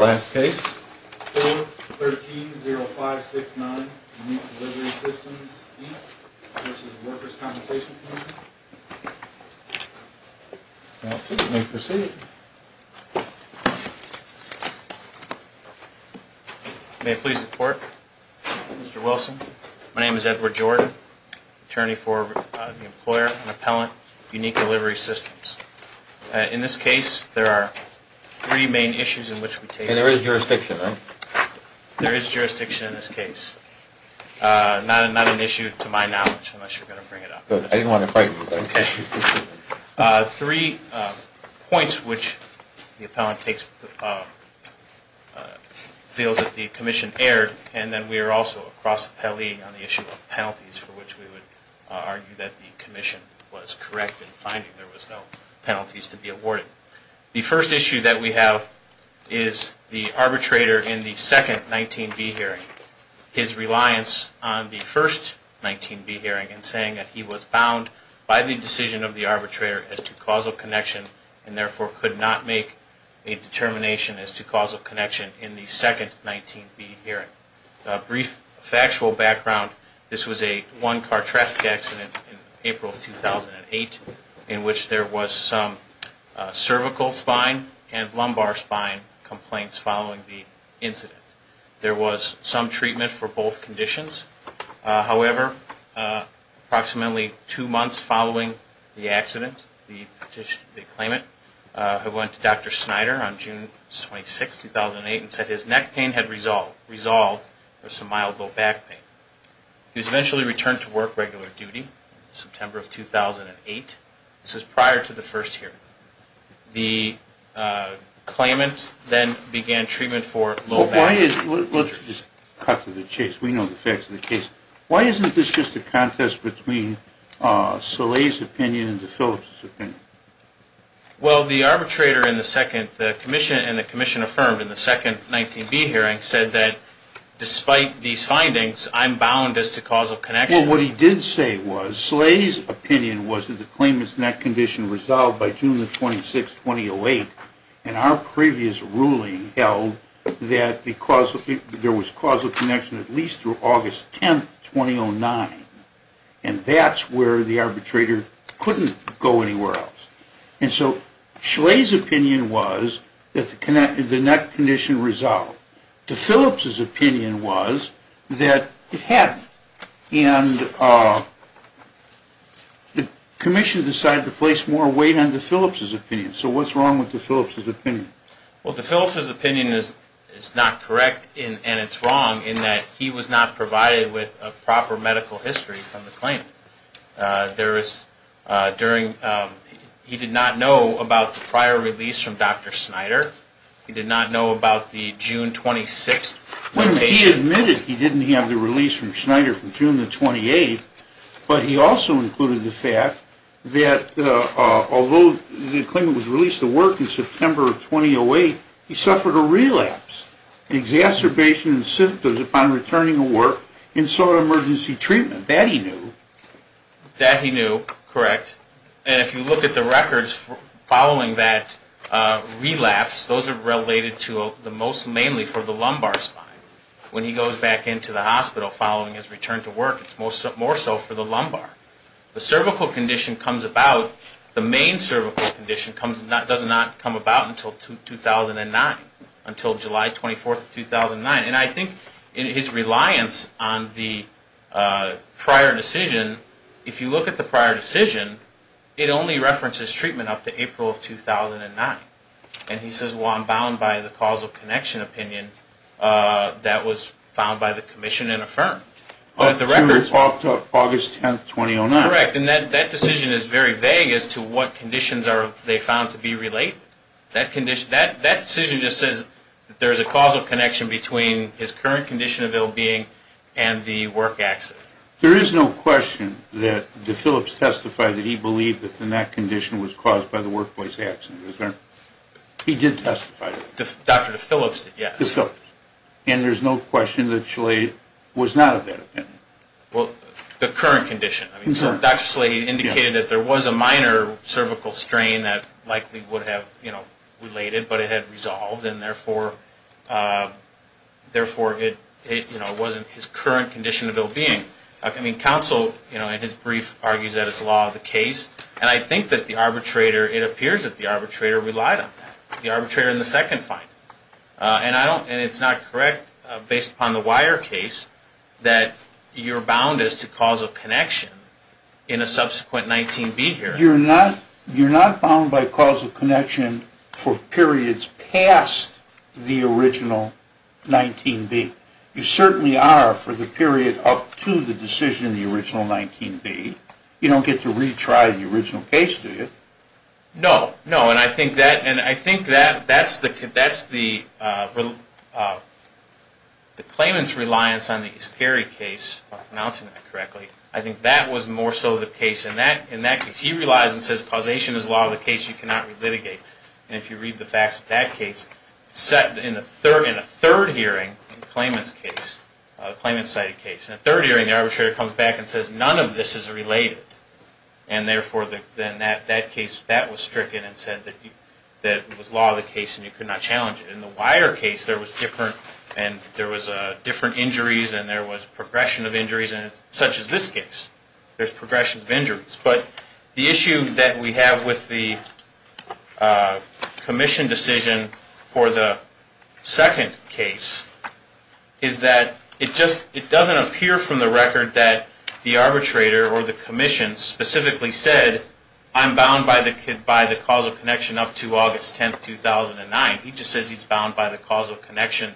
May it please the Court, Mr. Wilson, my name is Edward Jordan, Attorney for the Employer and Appellant of Unique Delivery Systems. In this case, there are three main issues in which we take... And there is jurisdiction, right? There is jurisdiction in this case. Not an issue to my knowledge, unless you're going to bring it up. I didn't want to frighten you, but... Three points which the appellant takes... feels that the commission erred, and then we are also cross-appellee on the issue of penalties for which we would argue that the commission was correct in finding there was no... penalties to be awarded. The first issue that we have is the arbitrator in the second 19B hearing. His reliance on the first 19B hearing in saying that he was bound by the decision of the arbitrator as to causal connection and therefore could not make a determination as to causal connection in the second 19B hearing. Brief factual background, this was a one-car traffic accident in April 2008 in which there was some cervical spine and lumbar spine complaints following the incident. There was some treatment for both conditions. However, approximately two months following the accident, the claimant went to Dr. Snyder on June 26, 2008 and said his neck pain had resolved. There was some mild low back pain. He was eventually returned to work regular duty in September of 2008. This was prior to the first hearing. Let's just cut to the chase. We know the facts of the case. Why isn't this just a contest between Salih's opinion and DeFillips' opinion? Well, the arbitrator in the second... the commission and the commission affirmed in the second 19B hearing said that despite these findings, I'm bound as to causal connection. Well, what he did say was Salih's opinion was that the claimant's neck condition resolved by June 26, 2008 and our previous ruling held that there was causal connection at least through August 10, 2009. And that's where the arbitrator couldn't go anywhere else. And so Salih's opinion was that the neck condition resolved. DeFillips' opinion was that it hadn't. And the commission decided to place more weight on DeFillips' opinion. So what's wrong with DeFillips' opinion? Well, DeFillips' opinion is not correct and it's wrong in that he was not provided with a proper medical history on the claim. There is... during... he did not know about the prior release from Dr. Snyder. He did not know about the June 26th... Well, he admitted he didn't have the release from Snyder from June the 28th, but he also included the fact that although the claimant was released to work in September of 2008, he suffered a relapse and exacerbation in symptoms upon returning to work and sought emergency treatment. That he knew. That he knew. Correct. And if you look at the records following that relapse, those are related to the most mainly for the lumbar spine. When he goes back into the hospital following his return to work, it's more so for the lumbar. The cervical condition comes about... the main cervical condition does not come about until 2009. Until July 24th of 2009. And I think his reliance on the prior decision... if you look at the prior decision, it only references treatment up to April of 2009. And he says, well, I'm bound by the causal connection opinion that was found by the commission and affirmed. But the records... Up to August 10th, 2009. Correct. And that decision is very vague as to what conditions they found to be related. That decision just says there's a causal connection between his current condition of ill-being and the work accident. There is no question that DePhillips testified that he believed that the neck condition was caused by the workplace accident. He did testify to that. Dr. DePhillips did, yes. DePhillips. And there's no question that Schley was not of that opinion. Well, the current condition. I mean, so Dr. Schley indicated that there was a minor cervical strain that likely would have, you know, related. But it had resolved, and therefore it wasn't his current condition of ill-being. I mean, counsel, you know, in his brief, argues that it's the law of the case. And I think that the arbitrator... it appears that the arbitrator relied on that. The arbitrator in the second finding. And I don't... and it's not correct, based upon the Weyer case, that you're bound as to causal connection in a subsequent 19B hearing. You're not bound by causal connection for periods past the original 19B. You certainly are for the period up to the decision in the original 19B. You don't get to retry the original case, do you? No. No, and I think that's the claimant's reliance on the East Perry case, if I'm pronouncing that correctly. I think that was more so the case. In that case, he relies and says causation is the law of the case. You cannot relitigate. And if you read the facts of that case, in a third hearing, the claimant's case, a claimant-sided case, in a third hearing, the arbitrator comes back and says, none of this is related. And therefore, then that case, that was stricken and said that it was the law of the case and you could not challenge it. In the Weyer case, there was different injuries and there was progression of injuries. Such as this case, there's progression of injuries. But the issue that we have with the commission decision for the second case is that it doesn't appear from the record that the arbitrator or the commission specifically said, I'm bound by the causal connection up to August 10, 2009. He just says he's bound by the causal connection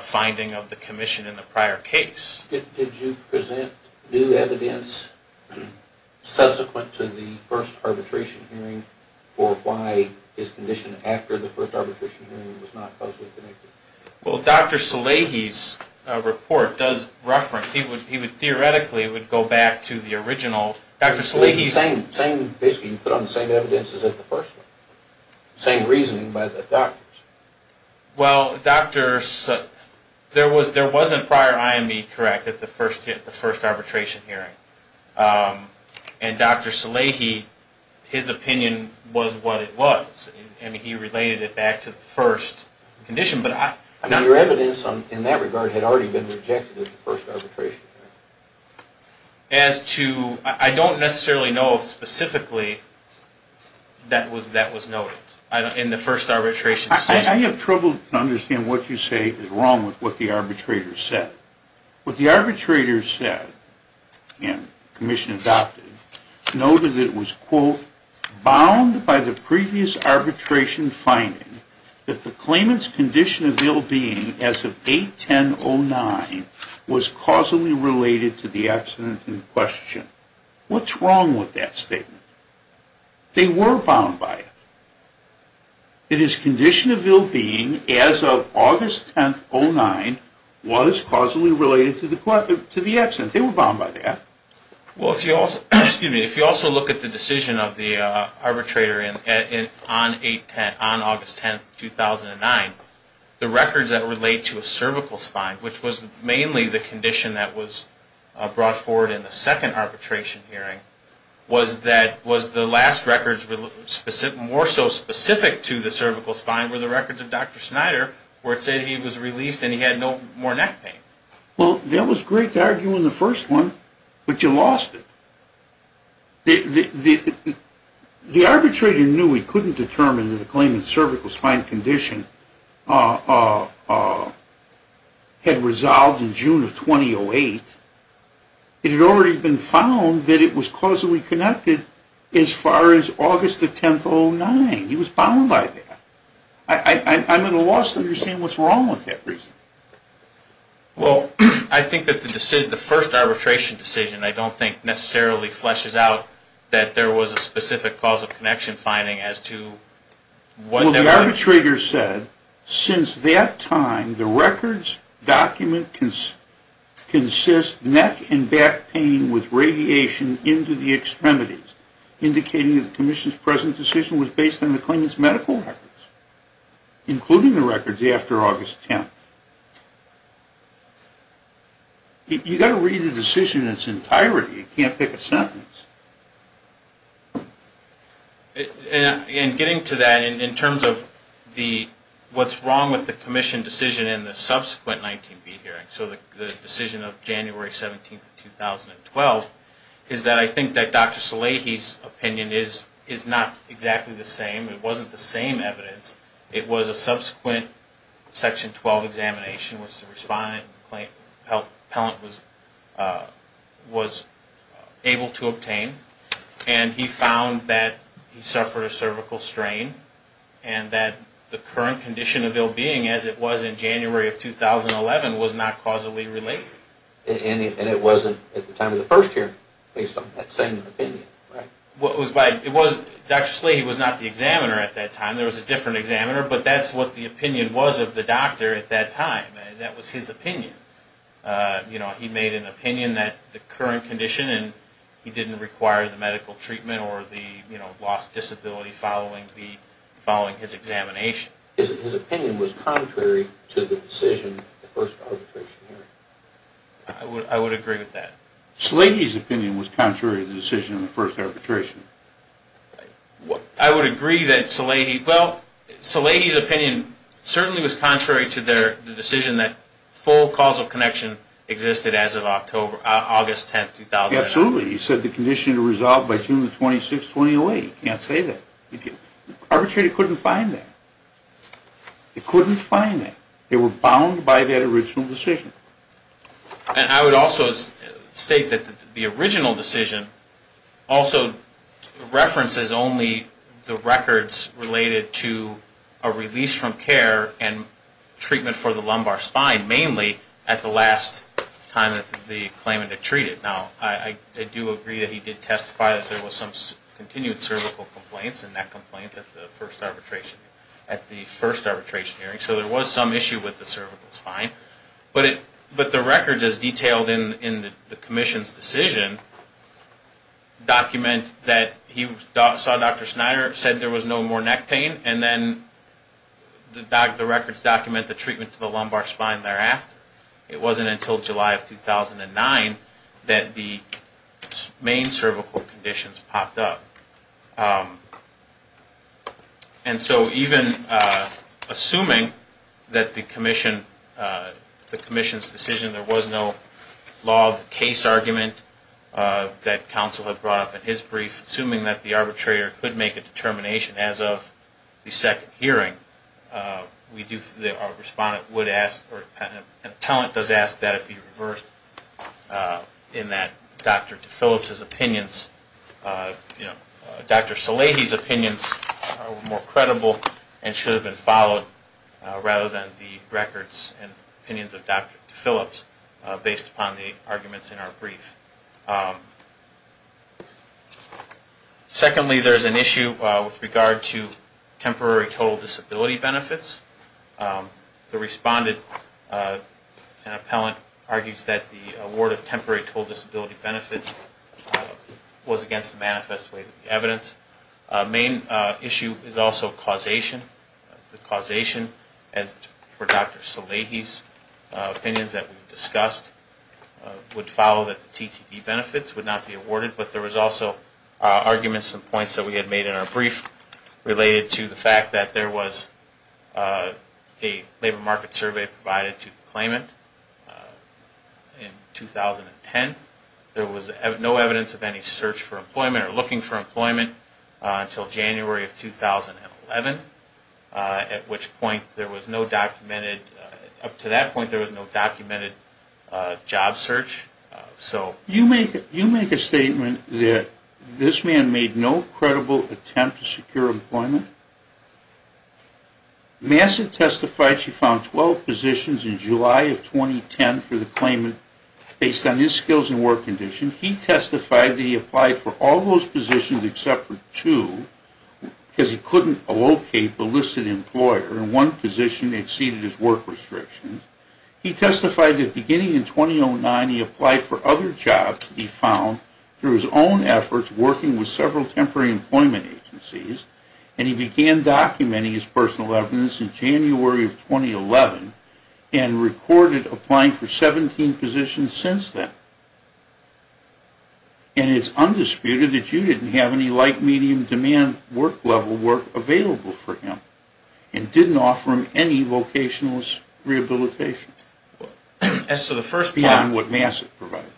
finding of the commission in the prior case. Did you present new evidence subsequent to the first arbitration hearing for why his condition after the first arbitration hearing was not causally connected? Well, Dr. Salehi's report does reference. He would theoretically go back to the original. Dr. Salehi's... It's the same. Basically, you put on the same evidence as at the first one. Same reasoning by the doctors. Well, doctors... There wasn't prior IME correct at the first arbitration hearing. And Dr. Salehi, his opinion was what it was. He related it back to the first condition. Now, your evidence in that regard had already been rejected at the first arbitration hearing. As to... I don't necessarily know if specifically that was noted. In the first arbitration... I have trouble understanding what you say is wrong with what the arbitrator said. What the arbitrator said, and the commission adopted, noted that it was, quote, bound by the previous arbitration finding that the claimant's condition of ill-being as of 8-10-09 was causally related to the accident in question. What's wrong with that statement? They were bound by it. It is condition of ill-being as of August 10-09 was causally related to the accident. They were bound by that. Well, if you also look at the decision of the arbitrator on August 10-09, the records that relate to a cervical spine, which was mainly the condition that was brought forward in the second arbitration hearing, was the last records more so specific to the cervical spine were the records of Dr. Snyder where it said he was released and he had no more neck pain. Well, that was great to argue in the first one, but you lost it. The arbitrator knew he couldn't determine that the claimant's cervical spine condition had resolved in June of 2008. It had already been found that it was causally connected as far as August 10-09. He was bound by that. I'm at a loss to understand what's wrong with that reason. Well, I think that the first arbitration decision, I don't think, necessarily fleshes out that there was a specific cause of connection finding as to what... The arbitrator said since that time the records document consists neck and back pain with radiation into the extremities, indicating that the commission's present decision was based on the claimant's medical records, including the records after August 10-09. You've got to read the decision in its entirety. You can't pick a sentence. In getting to that, in terms of what's wrong with the commission decision in the subsequent 19B hearing, so the decision of January 17, 2012, is that I think that Dr. Salehi's opinion is not exactly the same. It wasn't the same evidence. It was a subsequent Section 12 examination which the respondent, the health appellant, was able to obtain. And he found that he suffered a cervical strain and that the current condition of ill-being, as it was in January of 2011, was not causally related. And it wasn't at the time of the first hearing, based on that same opinion. Dr. Salehi was not the examiner at that time. There was a different examiner, but that's what the opinion was of the doctor at that time. That was his opinion. He made an opinion that the current condition and he didn't require the medical treatment or the lost disability following his examination. His opinion was contrary to the decision of the first arbitration hearing. I would agree with that. Salehi's opinion was contrary to the decision of the first arbitration. I would agree that Salehi... Well, Salehi's opinion certainly was contrary to the decision that full causal connection existed as of August 10, 2009. Absolutely. He said the condition to resolve by June 26, 2008. He can't say that. Arbitrators couldn't find that. They couldn't find that. They were bound by that original decision. And I would also state that the original decision also references only the records related to a release from care and treatment for the lumbar spine mainly at the last time that the claimant had treated. Now, I do agree that he did testify that there was some continued cervical complaints and neck complaints at the first arbitration hearing. So there was some issue with the cervical spine. But the records as detailed in the commission's decision document that he saw Dr. Snyder said there was no more neck pain. And then the records document the treatment to the lumbar spine thereafter. It wasn't until July of 2009 that the main cervical conditions popped up. And so even assuming that the commission's decision there was no law of the case argument that counsel had brought up in his brief assuming that the arbitrator could make a determination as of the second hearing our respondent would ask or a talent does ask that it be reversed in that Dr. DeFillips' opinions Dr. Salady's opinions are more credible and should have been followed rather than the records and opinions of Dr. DeFillips based upon the arguments in our brief. Secondly, there's an issue with regard to temporary total disability benefits. The respondent and appellant argues that the award of temporary total disability benefits was against the manifest way of the evidence. The main issue is also causation. The causation for Dr. Salady's opinions that we've discussed would follow that the TTE benefits would not be awarded but there was also arguments and points that we had made in our brief related to the fact that there was a labor market survey provided to the claimant in 2010. There was no evidence of any search for employment or looking for employment until January of 2011 at which point there was no documented up to that point there was no documented job search. You make a statement that this man made no credible attempt to secure employment Massett testified she found 12 positions in July of 2010 for the claimant based on his skills and work condition. He testified that he applied for all those positions except for two because he couldn't locate the listed employer and one position exceeded his work restrictions. He testified that beginning in 2009 he applied for other jobs to be found through his own efforts working with several temporary employment agencies and he began documenting his personal evidence in January of 2011 and recorded applying for 17 positions since then. And it's undisputed that you didn't have any light medium demand work level work available for him and didn't offer him any vocational rehabilitation beyond what Massett provided.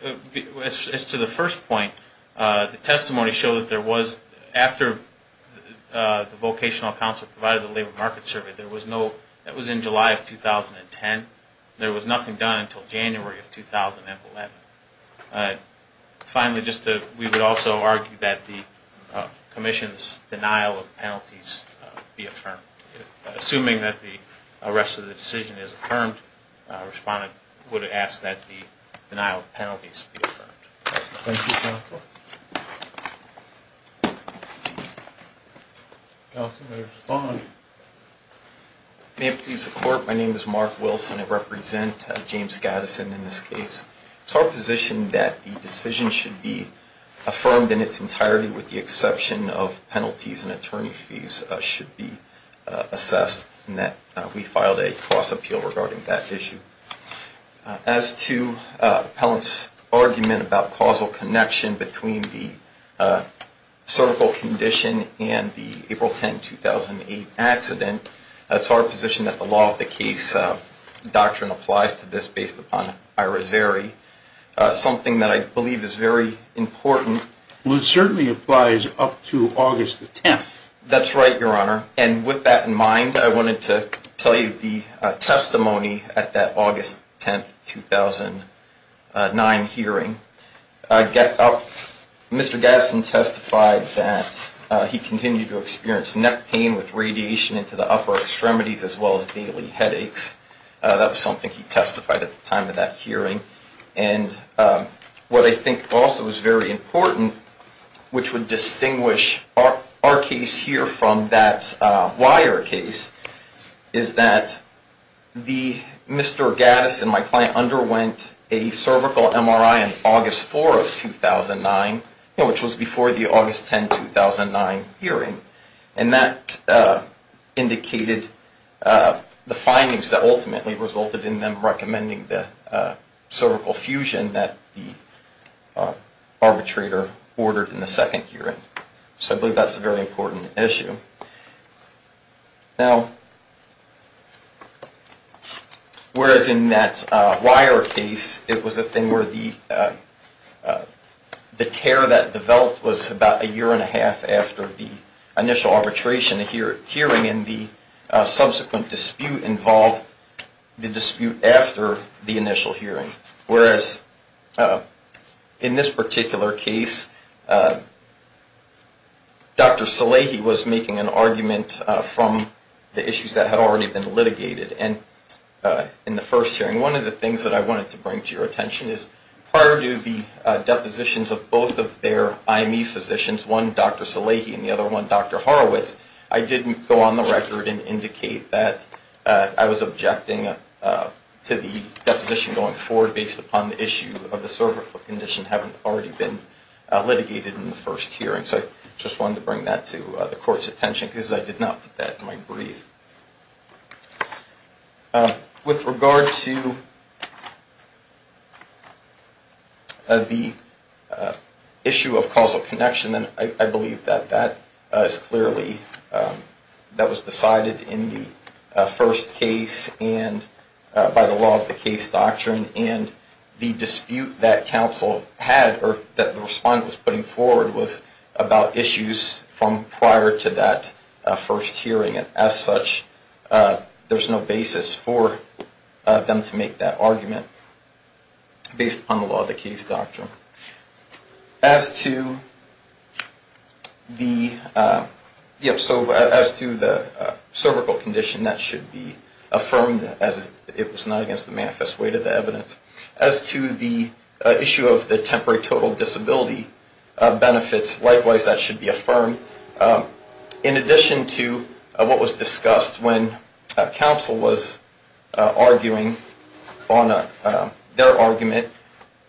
As to the first point the testimony showed that there was after the vocational counselor provided the labor market survey that was in July of 2010 there was nothing done until January of 2011. Finally we would also argue that the commission's denial of penalties be affirmed. Assuming that the rest of the decision is affirmed a respondent would ask that the denial of penalties be affirmed. Counselor respond. May it please the court my name is Mark Wilson and I represent James Gaddison in this case. It's our position that the decision should be affirmed in its entirety with the exception of penalties and attorney fees should be assessed and that we filed a cross appeal regarding that issue. As to appellant's argument about causal connection between the cervical condition and the April 10, 2008 accident it's our position that the law of the case doctrine applies to this based upon Ira Zeri something that I believe is very important. Well it certainly applies up to August the 10th. That's right your honor and with that in mind I wanted to tell you the testimony at that August 10, 2009 hearing. Mr. Gaddison testified that he had severe pain in his upper extremities as well as daily headaches. That was something he testified at the time of that hearing and what I think also is very important which would distinguish our case here from that wire case is that Mr. Gaddison my client underwent a cervical MRI on August 4, 2009 which was before the August 10, 2009 hearing and that indicated the findings that ultimately resulted in them recommending the cervical fusion that the arbitrator ordered in the second hearing. So I believe that's a very important issue. Now whereas in that wire case it was a thing where the tear that developed was about a year and a half after the initial arbitration hearing and the subsequent dispute involved the dispute after the initial hearing whereas in this particular case Dr. Salehi was making an argument from the issues that had already been litigated in the first hearing. One of the things that I wanted to bring to your attention is prior to the depositions of both of their IME physicians one Dr. Salehi and the other one Dr. Horowitz I did go on the record and indicate that I was objecting to the deposition going forward based upon the issue of the cervical condition having already been litigated in the first hearing so I just wanted to bring that to the court's attention because I did not put that in my brief. With regard to the issue of causal connection I believe that that is clearly that was decided in the first case and by the law of the case doctrine and the dispute that counsel had or that the respondent was putting forward was about issues from prior to that first hearing and as such there is no basis for them to make that argument based upon the law of the case doctrine. As to the cervical condition that should be affirmed as it was not against the manifest weight of the evidence as to the issue of the temporary total disability benefits likewise that should be affirmed in addition to what was discussed when counsel was arguing on their argument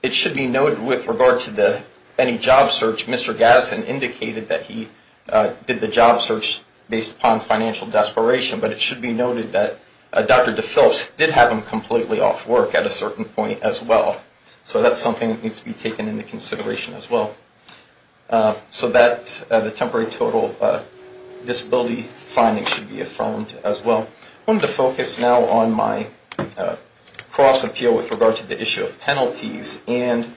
it should be noted with regard to any job search Mr. Gadsden indicated that he did the job search based upon financial desperation but it should be noted that Dr. DePhillips did have him completely off work at a certain point as well so that is something that needs to be taken into consideration as well so that the temporary total disability finding should be affirmed as well. I want to focus now on my cross appeal with regard to the issue of penalties and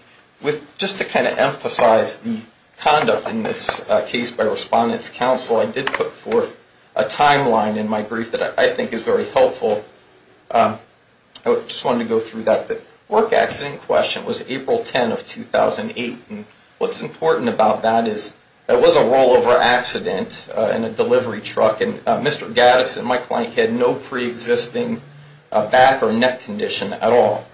just to kind of emphasize the conduct in this case by respondent's counsel I did put forth a timeline in my brief that I think is very helpful I just wanted to go through that the work accident question was April 10 of 2008 and what's important about that is it was a rollover accident in a delivery truck and Mr. Gadsden, my client, had no pre-existing back or neck condition at all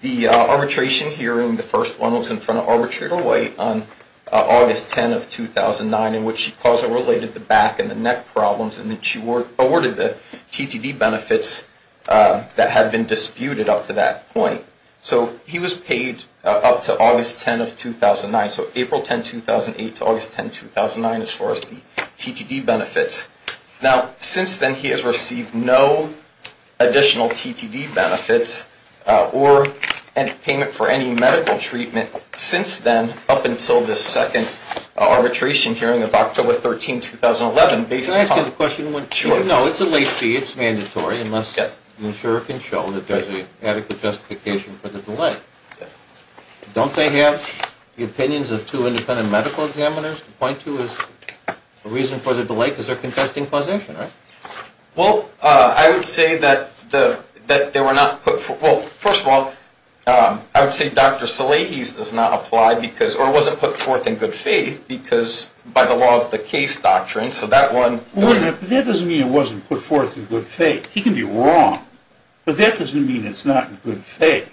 the arbitration hearing, the first one was in front of Arbitrator White on August 10 of 2009 in which he caused or related the back and the neck problems and then she awarded the TTD benefits that had been disputed up to that point so he was paid up to August 10 of 2009 so April 10, 2008 to August 10, 2009 as far as the TTD benefits now since then he has received no additional TTD benefits or payment for any medical treatment since then up until the second arbitration hearing of October 13, 2011 Can I ask you a question? No, it's a late fee, it's mandatory unless the insurer can show that there's an adequate justification for the delay Don't they have the opinions of two independent medical examiners to point to as a reason for the delay because they're contesting causation, right? Well, I would say that they were not put Well, first of all, I would say Dr. Salahis does not apply or wasn't put forth in good faith because by the law of the case doctrine That doesn't mean it wasn't put forth in good faith He can be wrong, but that doesn't mean it's not in good faith.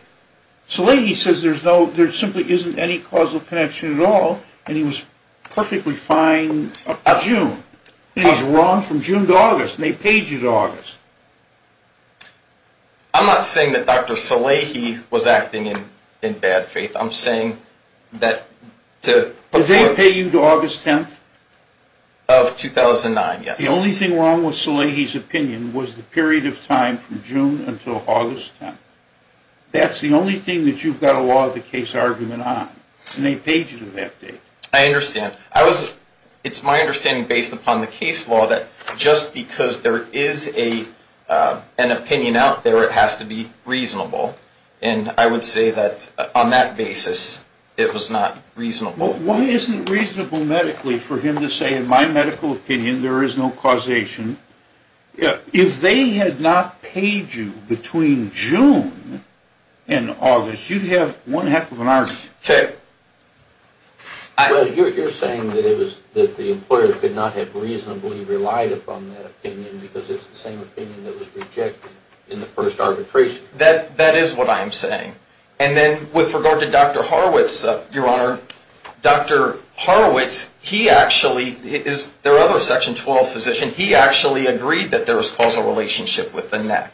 Salahis says there simply isn't any causal connection at all and he was perfectly fine June and he's wrong from June to August and they paid you to August I'm not saying that Dr. Salahis was acting in bad faith Did they pay you to August 10th? Of 2009, yes The only thing wrong with Salahis' opinion was the period of time from June until August 10th That's the only thing that you've got a law of the case argument on and they paid you to that date I understand. It's my understanding based upon the case law that just because there is an opinion out there it has to be reasonable and I would say that on that basis it was not reasonable Why isn't it reasonable medically for him to say in my medical opinion there is no causation If they had not paid you between June and August, you'd have one heck of an argument You're saying that the employer could not have reasonably relied upon that opinion because it's the same opinion that was rejected in the first arbitration That is what I'm saying With regard to Dr. Horowitz There are other Section 12 physicians He actually agreed that there was a causal relationship with the neck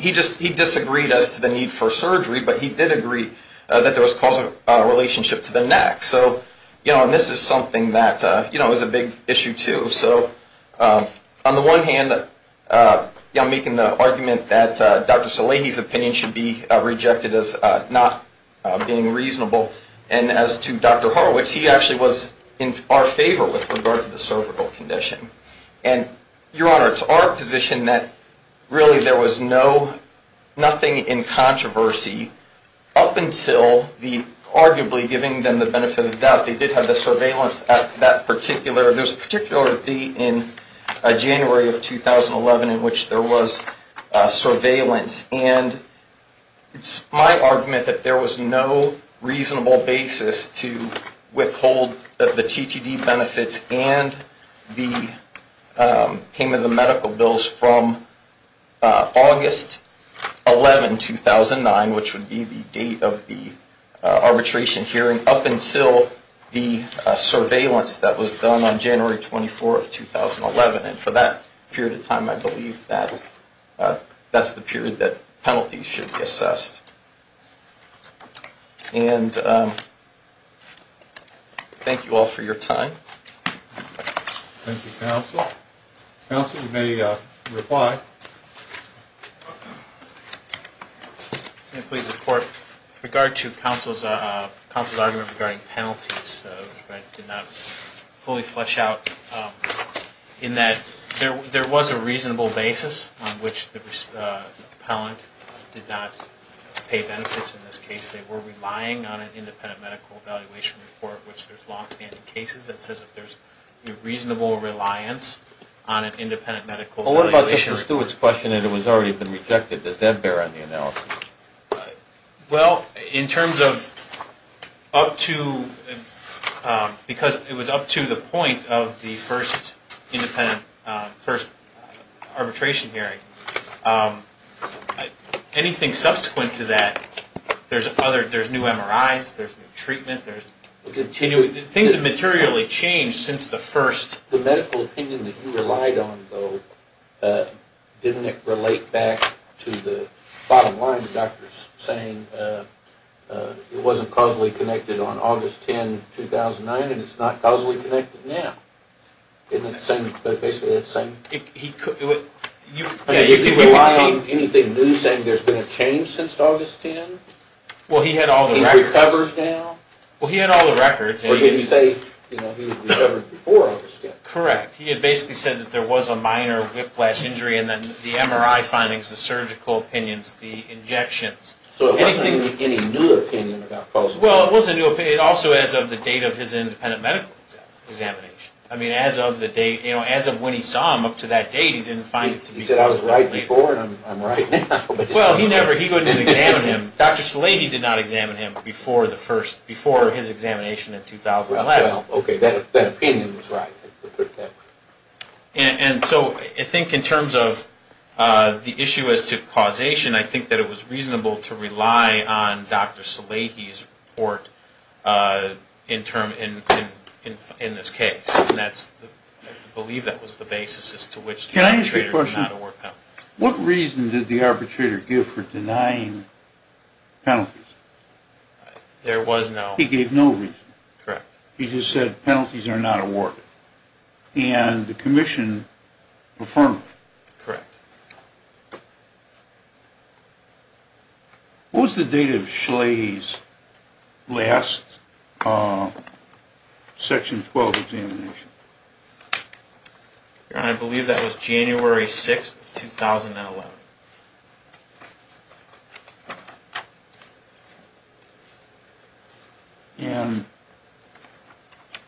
He disagreed as to the need for surgery but he did agree that there was a causal relationship to the neck This is a big issue too On the one hand I'm making the argument that Dr. Salehi's opinion should be rejected as not being reasonable and as to Dr. Horowitz He actually was in our favor with regard to the cervical condition It's our position that really there was nothing in controversy up until the arguably giving them the benefit of the doubt They did have the surveillance There was a particular date in January of 2011 in which there was surveillance It's my argument that there was no reasonable basis to withhold the TTD benefits and the payment of medical bills from August 11, 2009 which would be the date of the arbitration hearing up until the surveillance that was done on January 24, 2011 For that period of time I believe that's the period that penalties should be assessed Thank you all for your time Thank you Counsel, you may reply With regard to counsel's argument regarding penalties I did not fully flesh out in that there was a reasonable basis on which the appellant did not pay benefits in this case They were relying on an independent medical evaluation report which there's long-standing cases that says there's reasonable reliance on an independent medical evaluation report Does that bear on the analysis? Well, in terms of up to the point of the first arbitration hearing anything subsequent to that there's new MRIs there's new treatment Things have materially changed since the first The medical opinion that you relied on didn't it relate back to the bottom line of the doctors saying it wasn't causally connected on August 10, 2009 and it's not causally connected now Isn't it basically the same? You could rely on anything new saying there's been a change since August 10 He's recovered now Or you could say he recovered before August 10 Correct. He had basically said that there was a minor whiplash injury and then the MRI findings, the surgical opinions So it wasn't any new opinion Well, it was a new opinion also as of the date of his independent medical examination As of when he saw him up to that date He said I was right before and I'm right now Well, he wouldn't examine him Dr. Salehi did not examine him before his examination in 2011 That opinion was right I think in terms of the issue as to causation I think it was reasonable to rely on Dr. Salehi's report in this case I believe that was the basis Can I ask you a question? What reason did the arbitrator give for denying penalties? There was no He gave no reason He just said penalties are not awarded And the commission affirmed it Correct What was the date of Dr. Salehi's last Section 12 examination? I believe that was January 6, 2011 And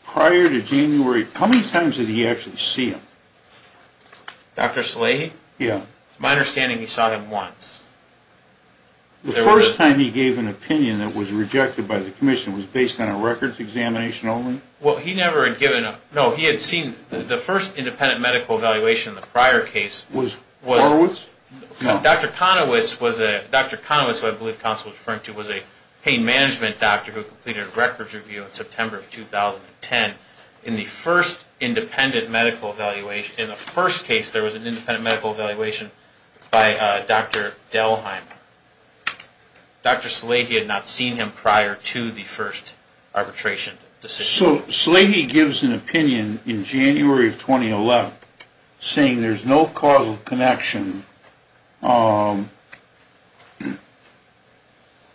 Prior to January How many times did he actually see him? Dr. Salehi? Yeah It's my understanding he saw him once The first time he gave an opinion that was rejected by the commission Was based on a records examination only? Well, he never had given No, he had seen The first independent medical evaluation in the prior case Dr. Conowitz Who I believe counsel was referring to Was a pain management doctor In the first independent medical evaluation In the first case There was an independent medical evaluation By Dr. Delheim Dr. Salehi had not seen him Prior to the first arbitration decision So Salehi gives an opinion In January of 2011 Saying there's no causal connection And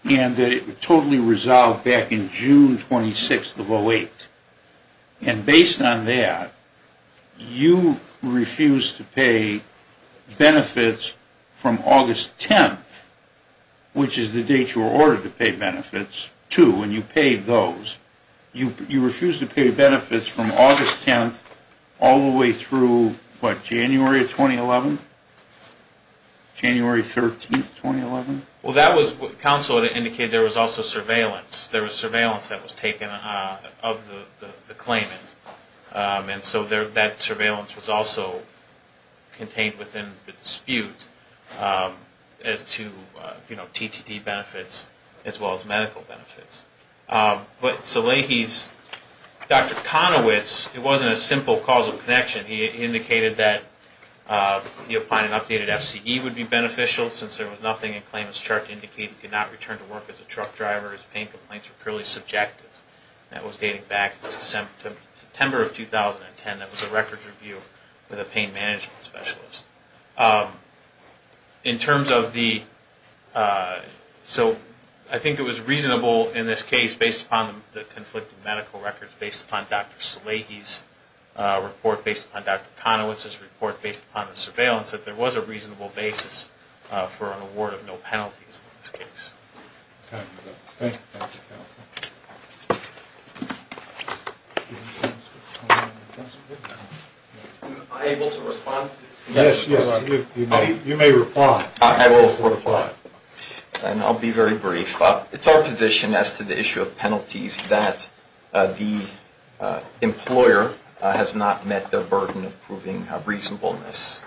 that it Was totally resolved back in June 26, 2008 And based on that You refused to pay Benefits from August 10 Which is the date you were ordered to pay benefits To when you paid those You refused to pay benefits from August 10 All the way through, what, January of 2011? January 13, 2011? Well that was Counsel indicated there was also surveillance There was surveillance that was taken of the claimant And so that surveillance was also Contained within the dispute As to, you know, TTT benefits As well as medical benefits But Salehi's Dr. Conowitz, it wasn't a simple causal connection He indicated that He applied an updated FCE would be beneficial Since there was nothing in the claimant's chart He also indicated he could not return to work As a truck driver as pain complaints were purely subjective That was dating back to September of 2010 That was a records review With a pain management specialist In terms of the So I think it was reasonable in this case Based upon the conflicted medical records Based upon Dr. Salehi's report Based upon Dr. Conowitz's report Based upon the surveillance That there was a reasonable basis For an award of no penalties In this case Am I able to respond? Yes, you may reply I will reply And I'll be very brief It's our position as to the issue of penalties That the employer Has not met their burden of proving reasonableness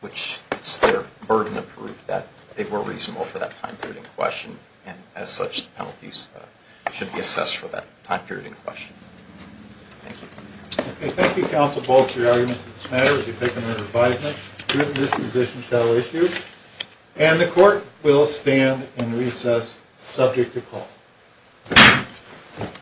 Which is their burden of proof That they were reasonable for that time period in question And as such, the penalties should be assessed For that time period in question Thank you, counsel Bolch For your arguments on this matter This position shall issue And the court will stand in recess Subject to call